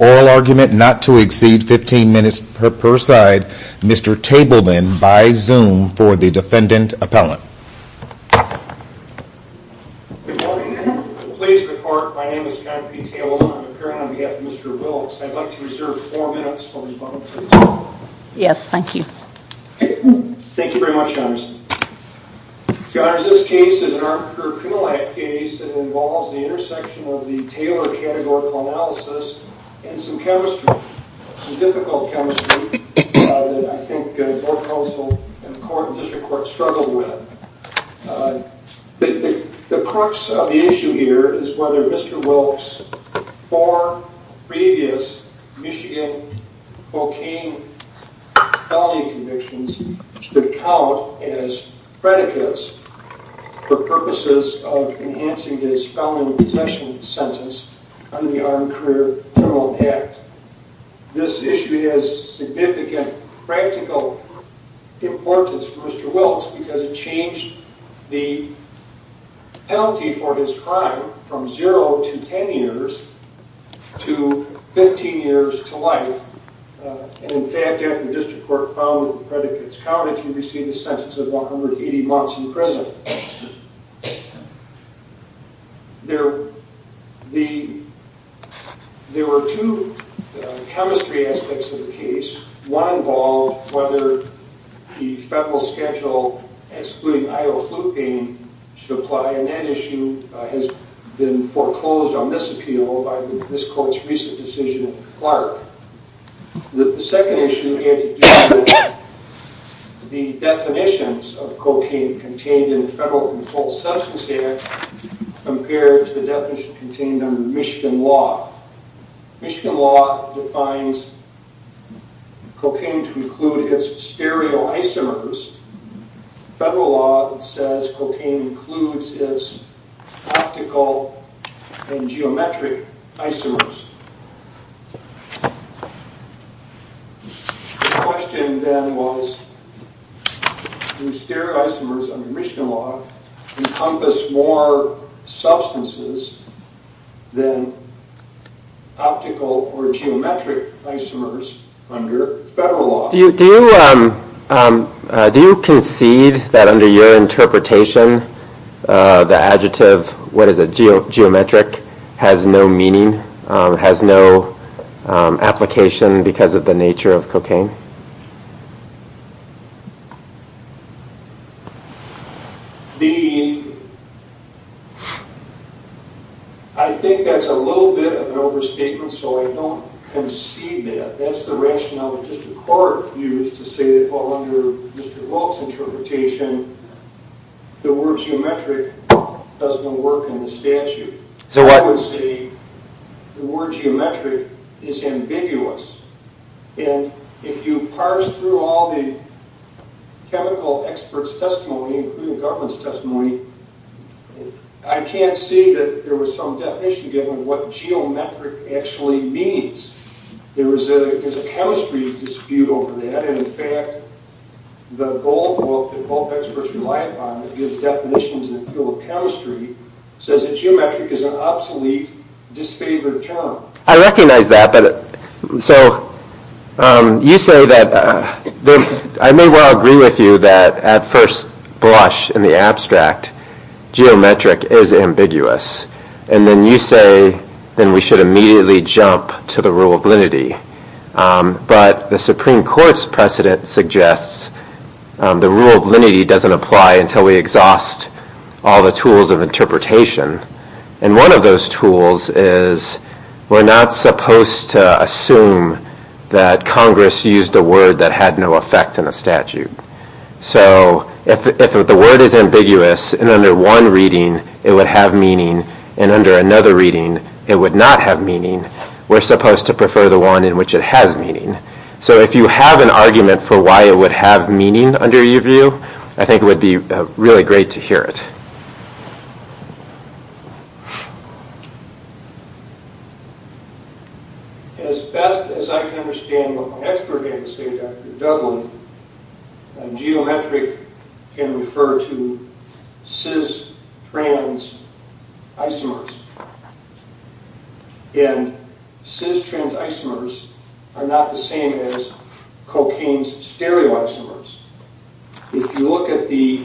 oral argument not to exceed 15 minutes per side. Mr. Tableman by Zoom for the defendant appellant. Good morning. Please record my name is John P. Tableman. I'm appearing on behalf of Mr. Wilkes. I'd like to reserve four minutes for rebuttal, please. Yes, thank you. Thank you very much, Your Honor. Your Honor, this case is an arbitrary criminal act case that involves the intersection of the Taylor Categorical Analysis and some chemistry, some difficult chemistry that I think both counsel and the District Court struggled with. The crux of the issue here is whether Mr. Wilkes could be used as predicates for purposes of enhancing his felon possession sentence under the Armed Career Criminal Act. This issue has significant practical importance for Mr. Wilkes because it changed the penalty for his crime from 0 to 10 years to 15 years to life. And in fact, after the District Court found that the predicates counted, he received a sentence of 180 months in prison. There were two chemistry aspects of the case. One involved whether the federal schedule excluding idle flu pain should apply and that issue has been foreclosed on this appeal by this court's recent decision in Clark. The second issue, the definitions of cocaine contained in the Federal Controlled Substance Act compared to the definition contained under Michigan law. Michigan law defines cocaine to include its stereoisomers. Federal law says cocaine includes its optical and geometric isomers. The question then was, do stereoisomers under Michigan law encompass more substances than optical or geometric isomers under federal law? Do you concede that under your interpretation, the adjective, what is it, geometric, has no meaning, has no application because of the nature of cocaine? I think that's a little bit of an overstatement, so I don't concede that. That's the rationale that the District Court used to say that under Mr. Volk's interpretation, the word geometric does no work in the statute. I would say the word geometric is ambiguous. If you parse through all the chemical experts' testimony, including the government's testimony, I can't see that there was some definition given what geometric actually means. There's a chemistry dispute over that, and in fact, the gold book that both experts relied on that gives definitions in the field of chemistry says that geometric is an obsolete, disfavored term. I recognize that, but so you say that, I may well agree with you that at first blush in the abstract, geometric is ambiguous, and then you say then we should immediately jump to the rule of linity, but the Supreme Court's precedent suggests the rule of linity doesn't apply until we exhaust all the tools of interpretation, and one of those tools is we're not supposed to assume that Congress used a word that had no effect in the statute. So if the word is ambiguous and under one reading, it would have meaning, and under another reading, it would not have meaning. We're supposed to prefer the one in which it has meaning. So if you have an argument for why it would have meaning under your view, I think it would be really great to hear it. As best as I can understand what my expert had to say, Dr. Dougland, geometric can refer to cis-trans isomers, and cis-trans isomers are not the same as cocaine's stereoisomers. If you look at the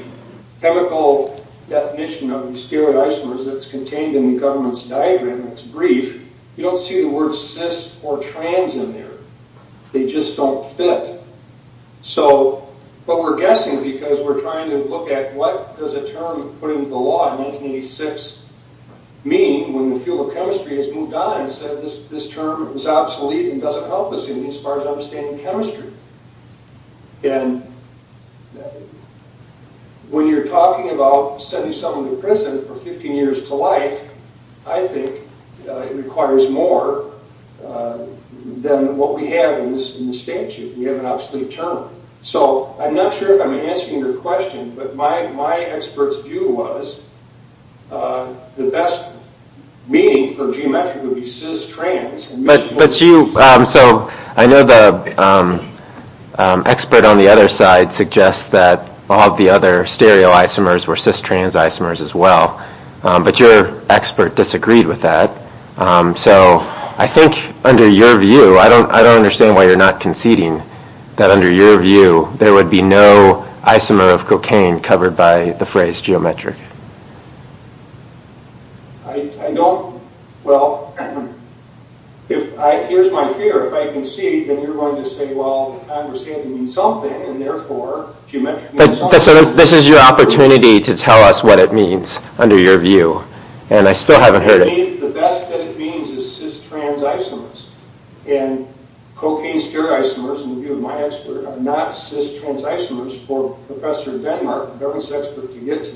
chemical definition of the stereoisomers that's contained in the government's diagram that's brief, you don't see the word cis or trans in there. They just don't fit. So, but we're guessing because we're trying to look at what does a term put into the law in 1986 mean when the field of chemistry has moved on and said this term is obsolete and doesn't help us in as far as understanding chemistry. And when you're talking about sending someone to prison for 15 years to life, I think it requires more than what we have in the statute. We have an obsolete term. So I'm not sure if I'm answering your question, but my expert's view was the best meaning for geometric would be cis-trans. But you, so I know the expert on the other side suggests that all the other stereoisomers were cis-trans isomers as well, but your expert disagreed with that. So I think under your view, I don't understand why you're not conceding that under your view there would be no isomer of cocaine covered by the phrase geometric. I don't, well, if I, here's my fear. If I concede, then you're going to say, well, I understand it means something, and therefore geometric means something. But this is your opportunity to tell us what it means under your view. And I still haven't heard it. To me, the best that it means is cis-trans isomers. And cocaine stereoisomers, in the case of cis-trans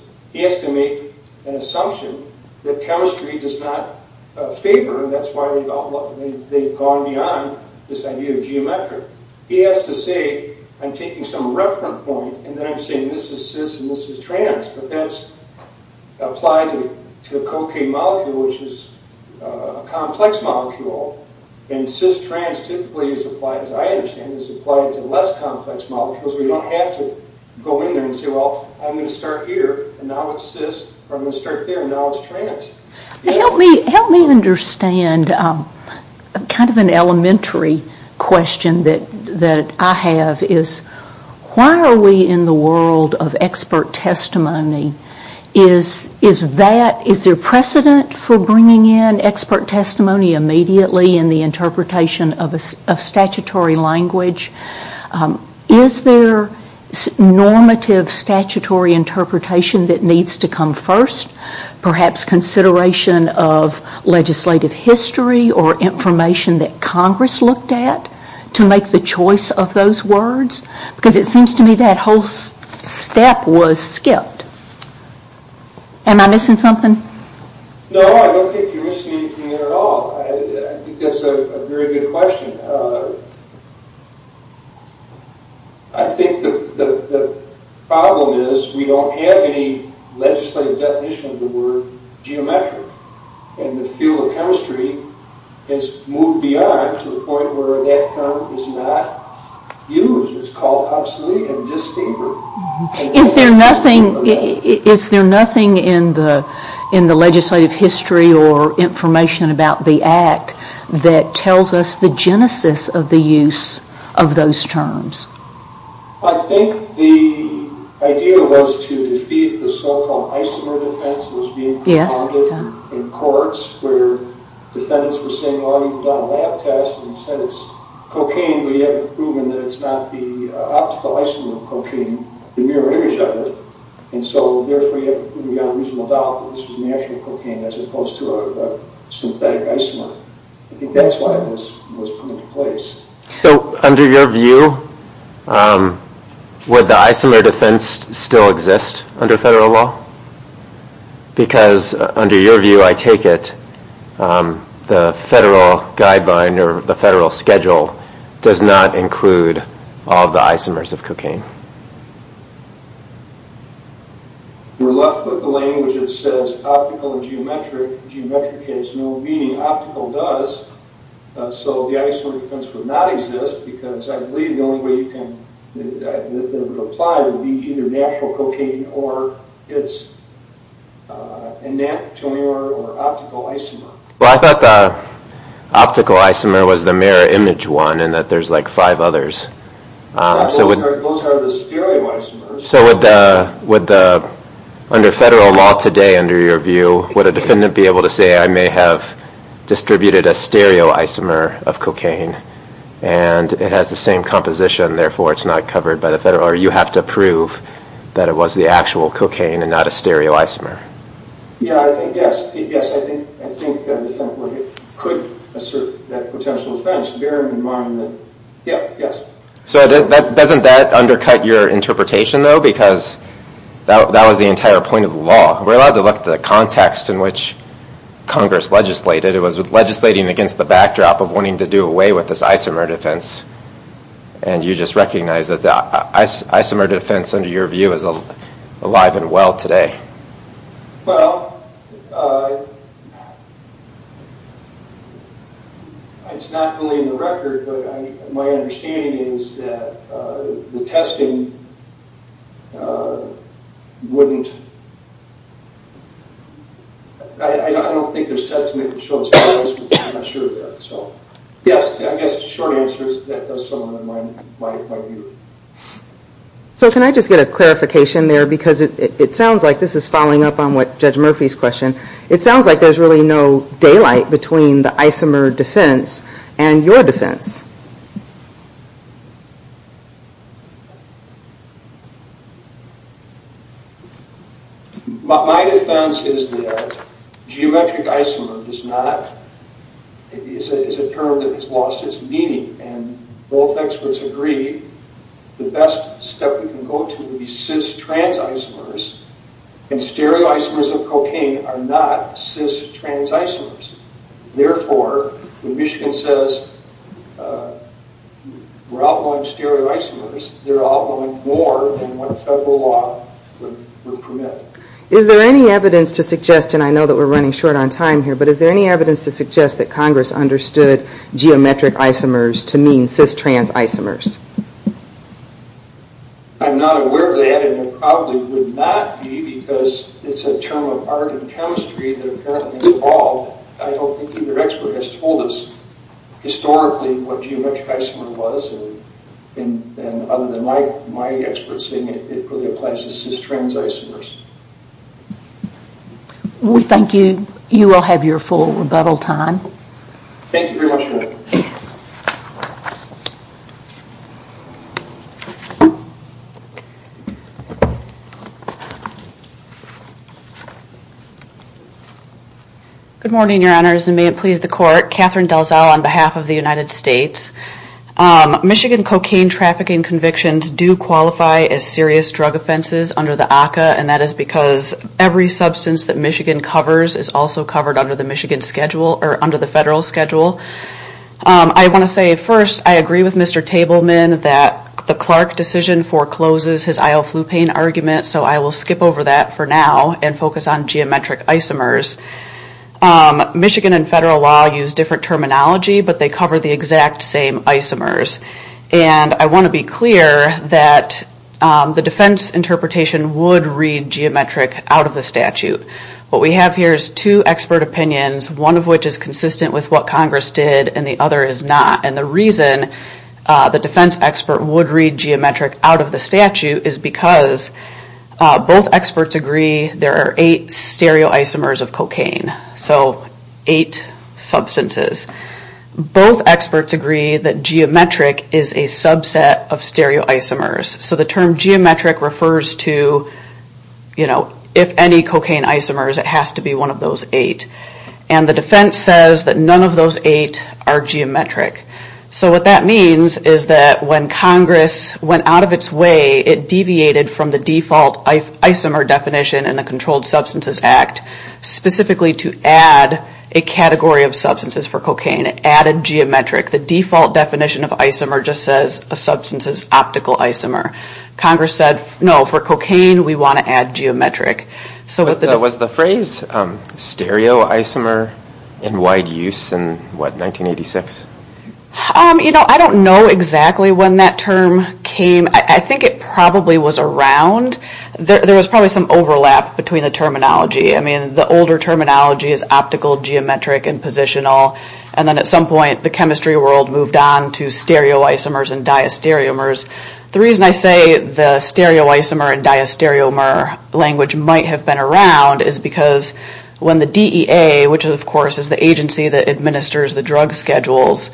isomers, he has to make an assumption that chemistry does not favor, and that's why they've gone beyond this idea of geometric. He has to say, I'm taking some reference point, and then I'm saying this is cis and this is trans, but that's applied to a cocaine molecule, which is a complex molecule. And cis-trans typically is applied, as I understand it, is applied to less complex molecules. We don't have to go in there and say, well, I'm going to start here, and now it's cis, or I'm going to start there, and now it's trans. Help me understand kind of an elementary question that I have is, why are we in the world of expert testimony? Is that, is there precedent for bringing in expert testimony immediately in the interpretation of statutory language? Is there normative statutory interpretation that needs to come first? Perhaps consideration of legislative history or information that Congress looked at to make the choice of those words? Because it seems to me that whole step was skipped. Am I missing something? No, I don't think you're missing anything at all. I think that's a very good question. I think the problem is we don't have any legislative definition of the word geometric. And the field of chemistry has moved beyond to the point where that term is not used. It's called obsolete and distinct. Is there nothing, is there nothing in the legislative history or information about the Act that tells us the genesis of the use of those terms? I think the idea was to defeat the so-called isomer defense that was being compounded in courts where defendants were saying, well, you've done a lab test and said it's cocaine, but you haven't proven that it's not the optical isomer of cocaine, the mirror image of it, and so therefore you have a reasonable doubt that this was natural cocaine as opposed to a synthetic isomer. I think that's why this was put into place. So under your view, would the isomer defense still exist under federal law? Because under your view, I take it, the federal guideline or the federal schedule does not include all of the isomers of cocaine. We're left with the language that says optical and geometric. Geometric has no meaning. Optical does. So the isomer defense would not exist because I believe the only way you can apply it would is an anatomical or optical isomer. I thought the optical isomer was the mirror image one and that there's like five others. Those are the stereo isomers. So would the, under federal law today, under your view, would a defendant be able to say I may have distributed a stereo isomer of cocaine and it has the same composition, therefore it's not covered by the federal, or you have to prove that it was the actual cocaine and not a stereo isomer. Yeah, I think, yes. I think a defendant could assert that potential offense, bearing in mind that, yep, yes. So doesn't that undercut your interpretation though? Because that was the entire point of the law. We're allowed to look at the context in which Congress legislated. It was legislating against the backdrop of wanting to do away with this isomer defense. And you just recognize that the isomer defense, under your view, is alive and well today. Well, it's not fully in the record, but my understanding is that the testing wouldn't, I don't think there's testing that could show us evidence, but I'm not sure of that. So, yes, I guess the short answer is that does sum up my view. So can I just get a clarification there, because it sounds like, this is following up on Judge Murphy's question, it sounds like there's really no daylight between the isomer defense and your defense. My defense is that geometric isomer is not, is a term that has lost its meaning. And both experts agree the best step we can go to is cis-trans isomers, and stereoisomers of cocaine are not cis-trans isomers. Therefore, when Michigan says we're outlawing stereoisomers, they're outlawing more than what federal law would permit. Is there any evidence to suggest, and I know that we're running short on time here, but is there any evidence to suggest that Congress understood geometric isomers to mean cis-trans isomers? I'm not aware of that, and there probably would not be, because it's a term of art and chemistry that apparently evolved. I don't think either expert has told us historically what geometric isomer was, and other than my experts saying it really applies to cis-trans isomers. We thank you. You will have your full rebuttal time. Thank you very much. Good morning, Your Honors, and may it please the Court. Catherine Delzow on behalf of the United States. Michigan cocaine trafficking convictions do qualify as serious drug offenses under the ACCA, and that is because every substance that Michigan covers is also covered under the Michigan schedule, or under the federal schedule. I want to say, first, I agree with Mr. Tableman that the Clark decision forecloses his IL-flu pain argument, so I will skip over that for now and focus on geometric isomers. Michigan and federal law use different terminology, but they cover the exact same isomers. And I want to be clear that the defense interpretation would read geometric out of the statute. What we have here is two expert opinions, one of which is consistent with what Congress did, and the other is not. And the reason the defense expert would read geometric out of the statute is because both experts agree there are eight stereoisomers of cocaine, so eight substances. Both experts agree that geometric is a subset of stereoisomers. So the term geometric refers to, you know, if any cocaine isomers, it has to be one of those eight. And the defense says that none of those eight are geometric. So what that means is that when Congress went out of its way, it deviated from the default isomer definition in the Controlled Substances Act, specifically to add a category of substances for cocaine, added geometric. The default definition of isomer just says a substance is optical isomer. Congress said, no, for cocaine, we want to add geometric. Was the phrase stereoisomer in wide use in, what, 1986? You know, I don't know exactly when that term came. I think it probably was around. There was probably some overlap between the terminology. I mean, the older terminology is optical, geometric, and positional. And then at some point, the chemistry world moved on to stereoisomers and diastereomers. The reason I say the stereoisomer and diastereomer language might have been around is because when the DEA, which, of course, is the agency that administers the drug schedules,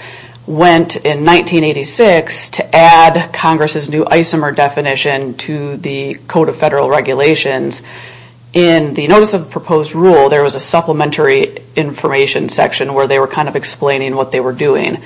went in 1986 to add Congress's new isomer definition to the Code of Federal Regulations, in the Notice of Proposed Rule, there was a supplementary information section where they were kind of explaining what they were doing.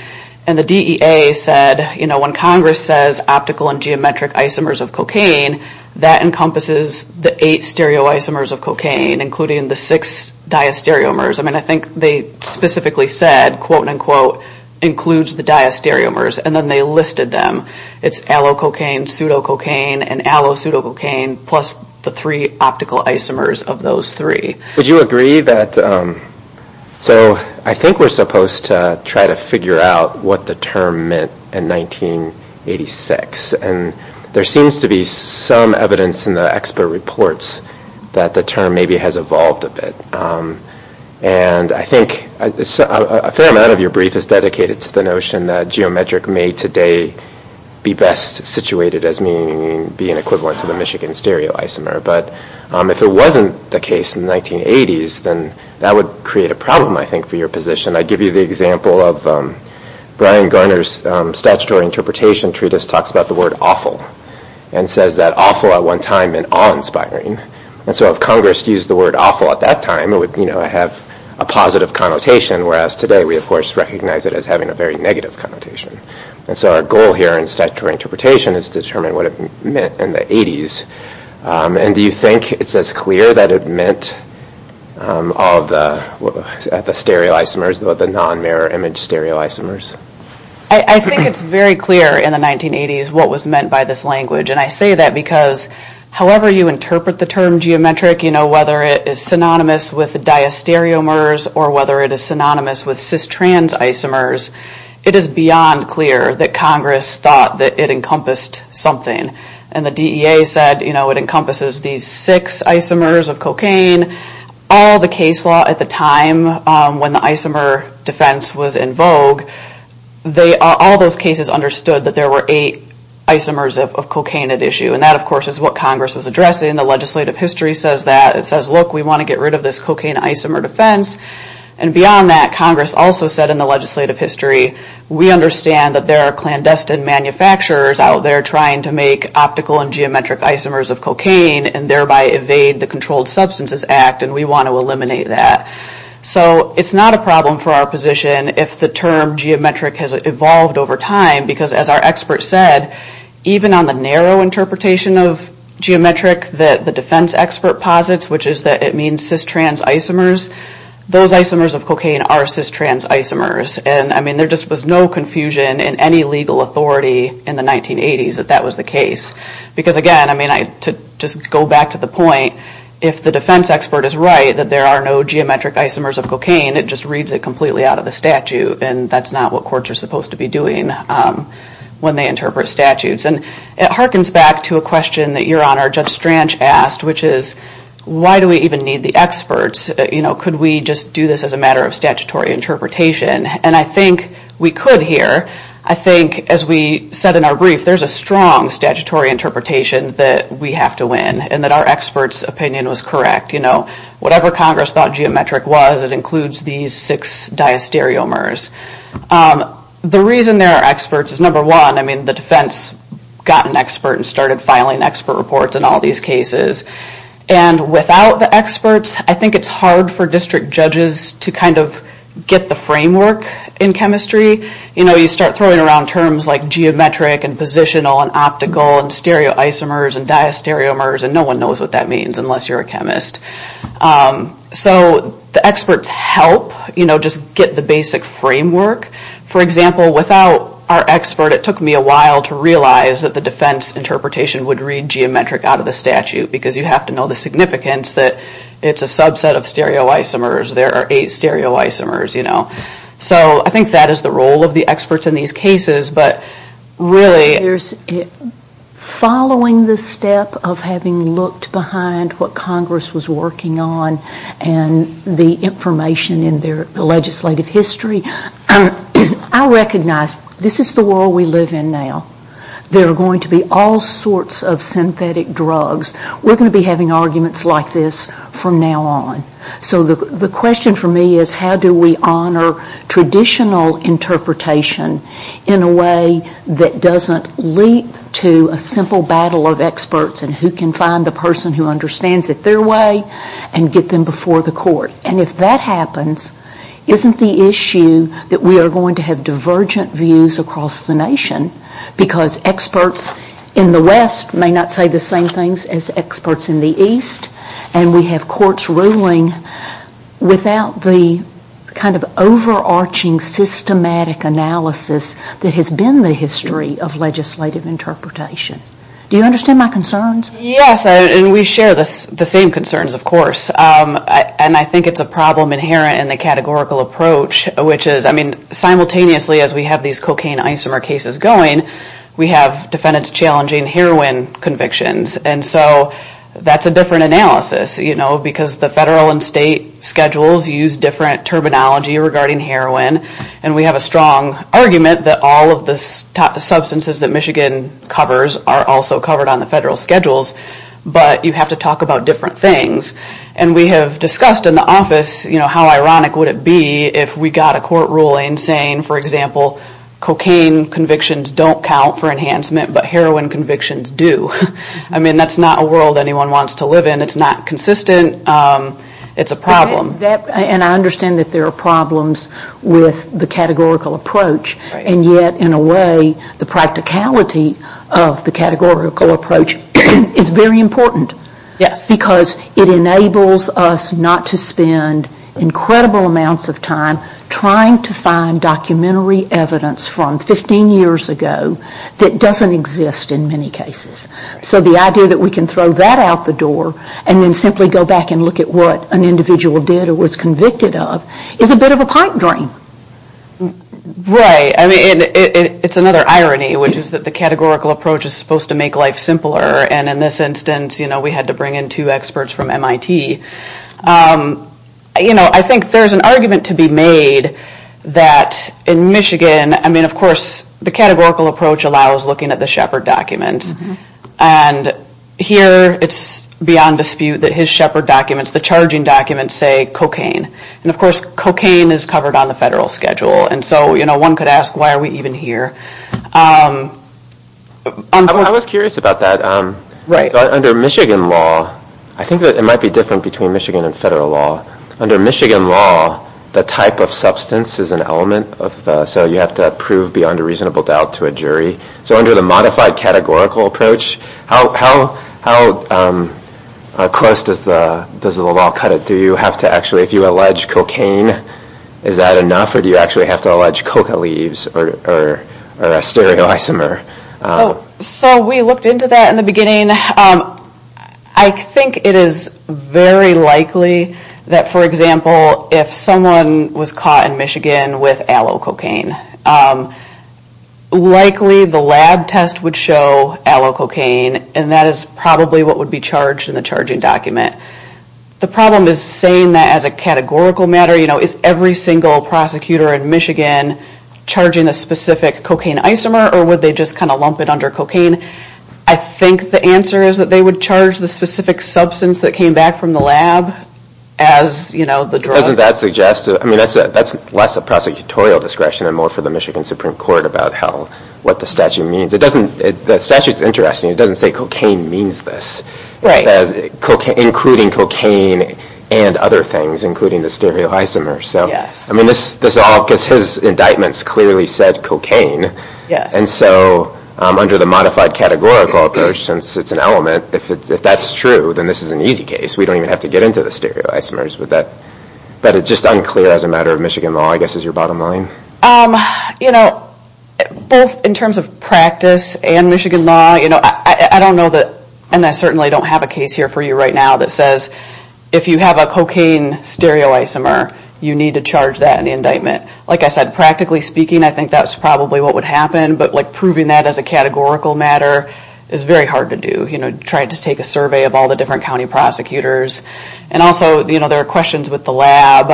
And the DEA said, you know, when Congress says optical and geometric isomers of cocaine, that encompasses the eight stereoisomers of cocaine, including the six diastereomers. I mean, I think they specifically said, quote-unquote, includes the diastereomers, and then they listed them. It's allococaine, pseudococaine, and allosuedococaine, plus the three optical isomers of those three. Would you agree that, so I think we're supposed to try to figure out what the term meant in 1986. And there seems to be some evidence in the expert reports that the term maybe has evolved a bit. And I think a fair amount of your brief is dedicated to the notion that geometric may today be best situated as being equivalent to the Michigan stereoisomer. But if it wasn't the case in the 1980s, then that would create a problem, I think, for your position. I give you the example of Brian Garner's statutory interpretation treatise talks about the word awful, and says that awful at one time meant awe-inspiring. And so if Congress used the word awful at that time, it would have a positive connotation, whereas today we, of course, recognize it as having a very negative connotation. And so our goal here in statutory interpretation is to determine what it meant in the 80s. And do you think it's as clear that it meant all of the stereoisomers, the non-mirror image stereoisomers? I think it's very clear in the 1980s what was meant by this language. And I say that because however you interpret the term geometric, whether it is synonymous with diastereomers or whether it is synonymous with cis-trans isomers, it is beyond clear that Congress thought that it encompassed something. And the DEA said it encompasses these six isomers of cocaine. All the case law at the time when the isomer defense was in vogue, all those cases understood that there were eight isomers of cocaine at issue. And that, of course, is what Congress was addressing. The legislative history says that. It says, look, we want to get rid of this cocaine isomer defense. And beyond that, Congress also said in the legislative history, we understand that there are clandestine manufacturers out there trying to make optical and geometric isomers of cocaine and thereby evade the Controlled Substances Act, and we want to eliminate that. So it's not a problem for our position if the term geometric has evolved over time, because as our expert said, even on the narrow interpretation of geometric that the defense expert posits, which is that it means cis-trans isomers, those isomers of cocaine are cis-trans isomers. And, I mean, there just was no confusion in any legal authority in the 1980s that that was the case. Because, again, I mean, to just go back to the point, if the defense expert is right that there are no geometric isomers of cocaine, it just reads it completely out of the statute, and that's not what courts are supposed to be doing when they interpret statutes. And it harkens back to a question that Your Honor, Judge Stranch, asked, which is why do we even need the experts? You know, could we just do this as a matter of statutory interpretation? And I think we could here. I think, as we said in our brief, there's a strong statutory interpretation that we have to win and that our expert's opinion was correct. You know, whatever Congress thought geometric was, it includes these six diastereomers. The reason there are experts is, number one, I mean, the defense got an expert and started filing expert reports in all these cases. And without the experts, I think it's hard for district judges to kind of get the framework in chemistry. You know, you start throwing around terms like geometric and positional and optical and stereoisomers and diastereomers, and no one knows what that means unless you're a chemist. So the experts help, you know, just get the basic framework. For example, without our expert, it took me a while to realize that the defense interpretation would read geometric out of the statute because you have to know the significance that it's a subset of stereoisomers, there are eight stereoisomers, you know. So I think that is the role of the experts in these cases. But really... Following the step of having looked behind what Congress was working on and the information in their legislative history, I recognize this is the world we live in now. There are going to be all sorts of synthetic drugs. We're going to be having arguments like this from now on. So the question for me is how do we honor traditional interpretation in a way that doesn't leap to a simple battle of experts and who can find the person who understands it their way and get them before the court. And if that happens, isn't the issue that we are going to have divergent views across the nation because experts in the West may not say the same things as experts in the East and we have courts ruling without the kind of overarching systematic analysis that has been the history of legislative interpretation. Do you understand my concerns? Yes, and we share the same concerns, of course. And I think it's a problem inherent in the categorical approach, which is, I mean, simultaneously as we have these cocaine isomer cases going, we have defendants challenging heroin convictions. And so that's a different analysis, you know, because the federal and state schedules use different terminology regarding heroin and we have a strong argument that all of the substances that Michigan covers are also covered on the federal schedules, but you have to talk about different things. And we have discussed in the office, you know, how ironic would it be if we got a court ruling saying, for example, cocaine convictions don't count for enhancement, but heroin convictions do. I mean, that's not a world anyone wants to live in. It's not consistent. It's a problem. And I understand that there are problems with the categorical approach, and yet in a way the practicality of the categorical approach is very important. Yes. Because it enables us not to spend incredible amounts of time trying to find documentary evidence from 15 years ago that doesn't exist in many cases. So the idea that we can throw that out the door and then simply go back and look at what an individual did or was convicted of is a bit of a pipe dream. Right. I mean, it's another irony, which is that the categorical approach is supposed to make life simpler, and in this instance, you know, we had to bring in two experts from MIT. You know, I think there's an argument to be made that in Michigan, I mean, of course, the categorical approach allows looking at the Shepard documents, and here it's beyond dispute that his Shepard documents, the charging documents, say cocaine. And of course, cocaine is covered on the federal schedule. And so, you know, one could ask, why are we even here? I was curious about that. Right. So under Michigan law, I think that it might be different between Michigan and federal law. Under Michigan law, the type of substance is an element of the so you have to prove beyond a reasonable doubt to a jury. So under the modified categorical approach, how close does the law cut it? Do you have to actually, if you allege cocaine, is that enough? Or do you actually have to allege coca leaves or a stereoisomer? So we looked into that in the beginning. I think it is very likely that, for example, if someone was caught in Michigan with aloe cocaine, likely the lab test would show aloe cocaine, and that is probably what would be charged in the charging document. The problem is saying that as a categorical matter, you know, is every single prosecutor in Michigan charging a specific cocaine isomer, or would they just kind of lump it under cocaine? I think the answer is that they would charge the specific substance that came back from the lab as, you know, the drug. Doesn't that suggest, I mean, that is less a prosecutorial discretion and more for the Michigan Supreme Court about what the statute means. The statute is interesting. It doesn't say cocaine means this, including cocaine and other things, including the stereoisomer. Yes. I mean, this all, because his indictments clearly said cocaine. Yes. And so under the modified categorical approach, since it is an element, if that is true, then this is an easy case. We don't even have to get into the stereoisomers. But that is just unclear as a matter of Michigan law, I guess, is your bottom line? You know, both in terms of practice and Michigan law, you know, I don't know that, and I certainly don't have a case here for you right now that says if you have a cocaine stereoisomer, you need to charge that in the indictment. Like I said, practically speaking, I think that's probably what would happen, but like proving that as a categorical matter is very hard to do. You know, try to take a survey of all the different county prosecutors. And also, you know, there are questions with the lab.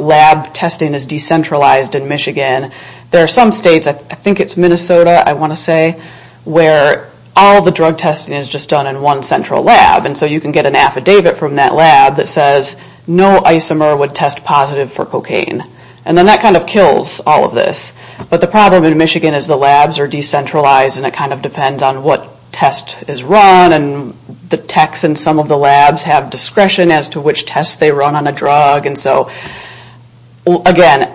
Lab testing is decentralized in Michigan. There are some states, I think it's Minnesota, I want to say, where all the drug testing is just done in one central lab. And so you can get an affidavit from that lab that says, no isomer would test positive for cocaine. And then that kind of kills all of this. But the problem in Michigan is the labs are decentralized, and it kind of depends on what test is run, and the techs in some of the labs have discretion as to which tests they run on a drug. And so, again,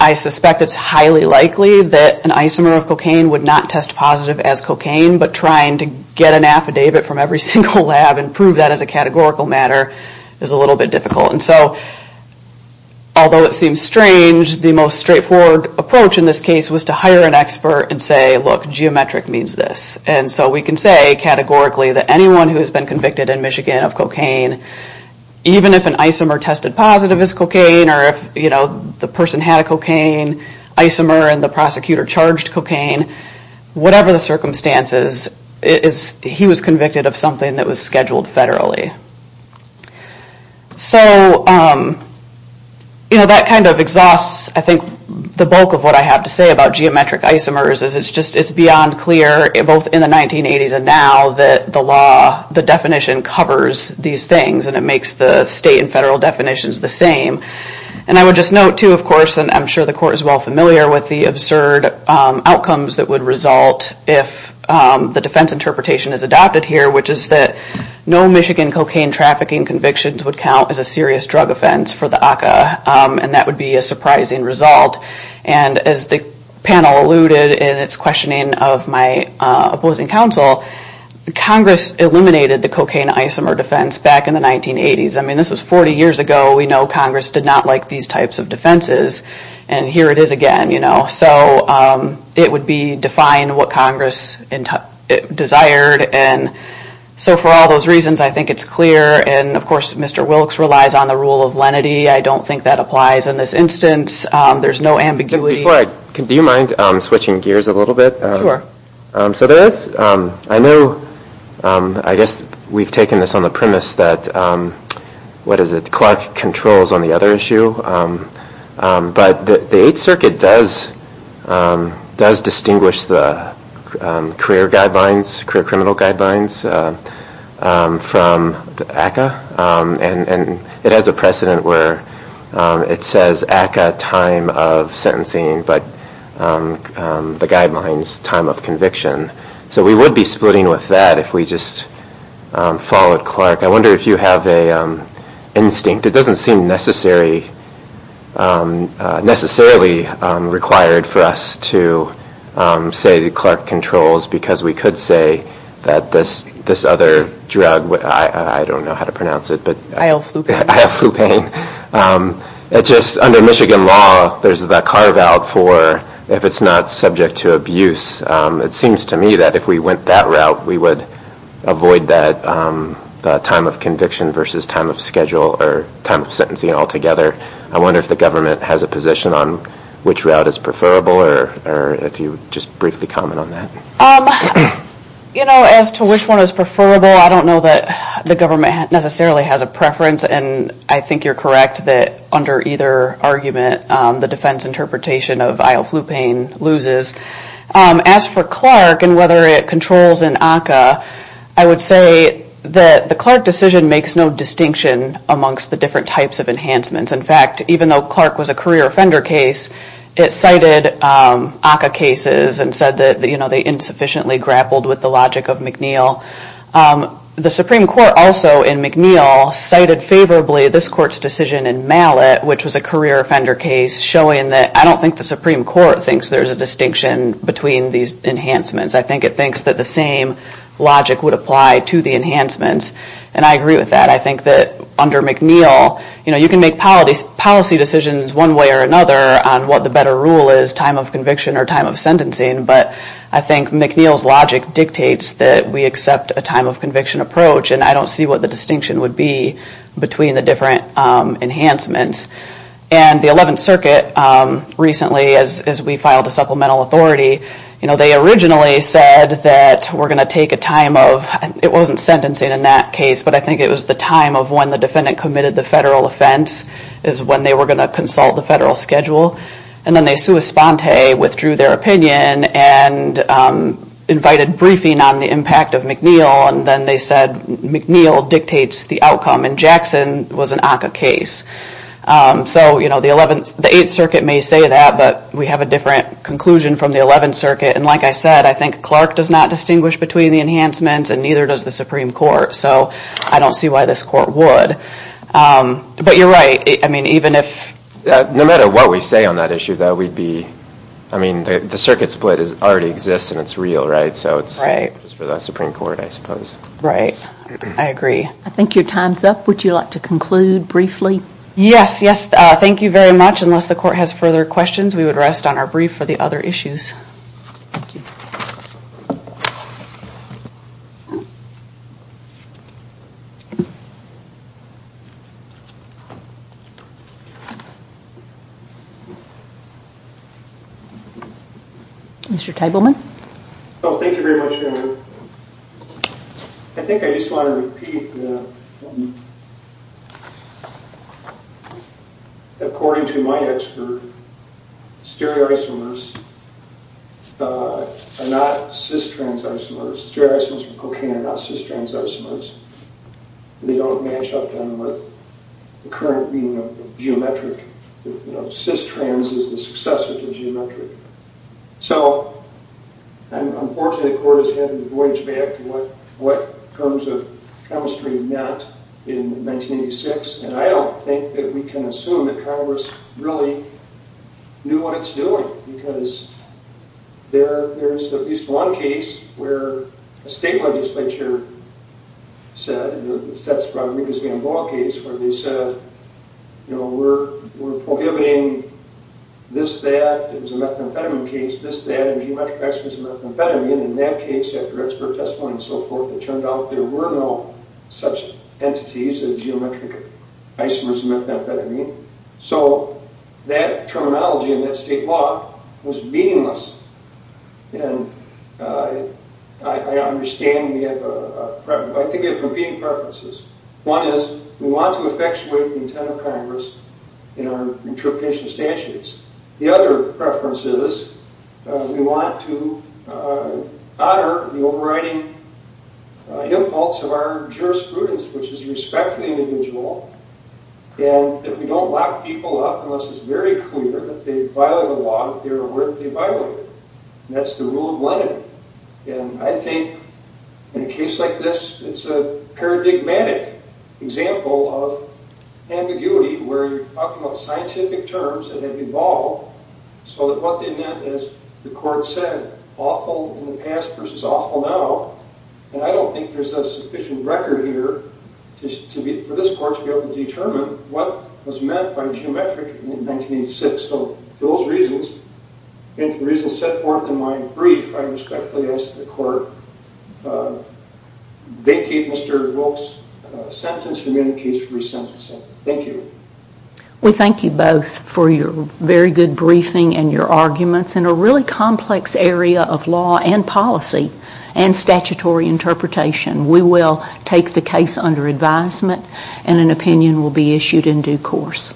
I suspect it's highly likely that an isomer of cocaine would not test positive as cocaine, but trying to get an affidavit from every single lab and prove that as a categorical matter is a little bit difficult. And so, although it seems strange, the most straightforward approach in this case was to hire an expert and say, look, geometric means this. And so we can say categorically that anyone who has been convicted in Michigan of cocaine, even if an isomer tested positive as cocaine, or if, you know, the person had a cocaine isomer and the prosecutor charged cocaine, whatever the circumstances, he was convicted of something that was scheduled federally. So, you know, that kind of exhausts, I think, the bulk of what I have to say about geometric isomers, is it's just beyond clear, both in the 1980s and now, that the law, the definition covers these things, and it makes the state and federal definitions the same. And I would just note, too, of course, and I'm sure the court is well familiar with the absurd outcomes that would result if the defense interpretation is adopted here, which is that no Michigan cocaine trafficking convictions would count as a serious drug offense for the ACCA, and that would be a surprising result. And as the panel alluded in its questioning of my opposing counsel, Congress eliminated the cocaine isomer defense back in the 1980s. I mean, this was 40 years ago. We know Congress did not like these types of defenses, and here it is again, you know. So it would define what Congress desired. And so for all those reasons, I think it's clear, and of course Mr. Wilkes relies on the rule of lenity. I don't think that applies in this instance. There's no ambiguity. Do you mind switching gears a little bit? Sure. So there is, I know, I guess we've taken this on the premise that, what is it, Clark controls on the other issue, but the Eighth Circuit does distinguish the career guidelines, career criminal guidelines from ACCA, and it has a precedent where it says ACCA time of sentencing, but the guidelines time of conviction. So we would be splitting with that if we just followed Clark. I wonder if you have an instinct. It doesn't seem necessarily required for us to say that Clark controls because we could say that this other drug, I don't know how to pronounce it. Ioflupine. Ioflupine. It's just under Michigan law, there's the carve out for if it's not subject to abuse. It seems to me that if we went that route, we would avoid that time of conviction versus time of schedule or time of sentencing altogether. I wonder if the government has a position on which route is preferable or if you would just briefly comment on that. You know, as to which one is preferable, I don't know that the government necessarily has a preference, and I think you're correct that under either argument, the defense interpretation of Ioflupine loses. As for Clark and whether it controls an ACCA, I would say that the Clark decision makes no distinction amongst the different types of enhancements. In fact, even though Clark was a career offender case, it cited ACCA cases and said that they insufficiently grappled with the logic of McNeil. The Supreme Court also in McNeil cited favorably this court's decision in Mallet, which was a career offender case, showing that I don't think the Supreme Court thinks there's a distinction between these enhancements. I think it thinks that the same logic would apply to the enhancements, and I agree with that. I think that under McNeil, you know, you can make policy decisions one way or another on what the better rule is, time of conviction or time of sentencing, but I think McNeil's logic dictates that we accept a time of conviction approach, and I don't see what the distinction would be between the different enhancements. And the 11th Circuit recently, as we filed a supplemental authority, you know, they originally said that we're going to take a time of, it wasn't sentencing in that case, but I think it was the time of when the defendant committed the federal offense is when they were going to consult the federal schedule, and then they sua sponte withdrew their opinion and invited briefing on the impact of McNeil, and then they said McNeil dictates the outcome, and Jackson was an ACCA case. So, you know, the 8th Circuit may say that, but we have a different conclusion from the 11th Circuit, and like I said, I think Clark does not distinguish between the enhancements and neither does the Supreme Court, so I don't see why this court would. But you're right. I mean, even if... No matter what we say on that issue, that would be, I mean, the circuit split already exists and it's real, right? Right. I think it's for the Supreme Court, I suppose. Right. I agree. I think your time's up. Would you like to conclude briefly? Yes, yes. Thank you very much. Unless the court has further questions, we would rest on our brief for the other issues. Thank you. Mr. Tabelman? Well, thank you very much, Andrew. I think I just want to repeat that, according to my expert, stereoisomers are not cis-trans isomers. Stereoisomers from cocaine are not cis-trans isomers. They don't match up then with the current meaning of geometric. You know, cis-trans is the successor to geometric. So, unfortunately, the court has had to voyage back to what terms of chemistry meant in 1986, and I don't think that we can assume that Congress really knew what it's doing because there's at least one case where a state legislature said, and that's Rodriguez-Gamboa case, where they said, you know, we're prohibiting this, that. It was a methamphetamine case, this, that, and geometric isomers of methamphetamine. In that case, after expert testimony and so forth, it turned out there were no such entities as geometric isomers of methamphetamine. So that terminology in that state law was meaningless. And I understand we have a... I think we have competing preferences. One is we want to effectuate the intent of Congress in our interpretation of statutes. The other preference is we want to honor the overriding impulse of our jurisprudence, which is respect for the individual, and that we don't lock people up unless it's very clear that they violate the law if they're aware that they violate it. And that's the rule of Lenin. And I think in a case like this, it's a paradigmatic example of ambiguity where you're talking about scientific terms that have evolved so that what they meant, as the Court said, awful in the past versus awful now. And I don't think there's a sufficient record here for this Court to be able to determine what was meant by the geometric in 1986. So for those reasons, and for the reasons set forth in my brief, I respectfully ask the Court vacate Mr. Volk's sentence from any case for resentencing. Thank you. We thank you both for your very good briefing and your arguments in a really complex area of law and policy and statutory interpretation. We will take the case under advisement and an opinion will be issued in due course.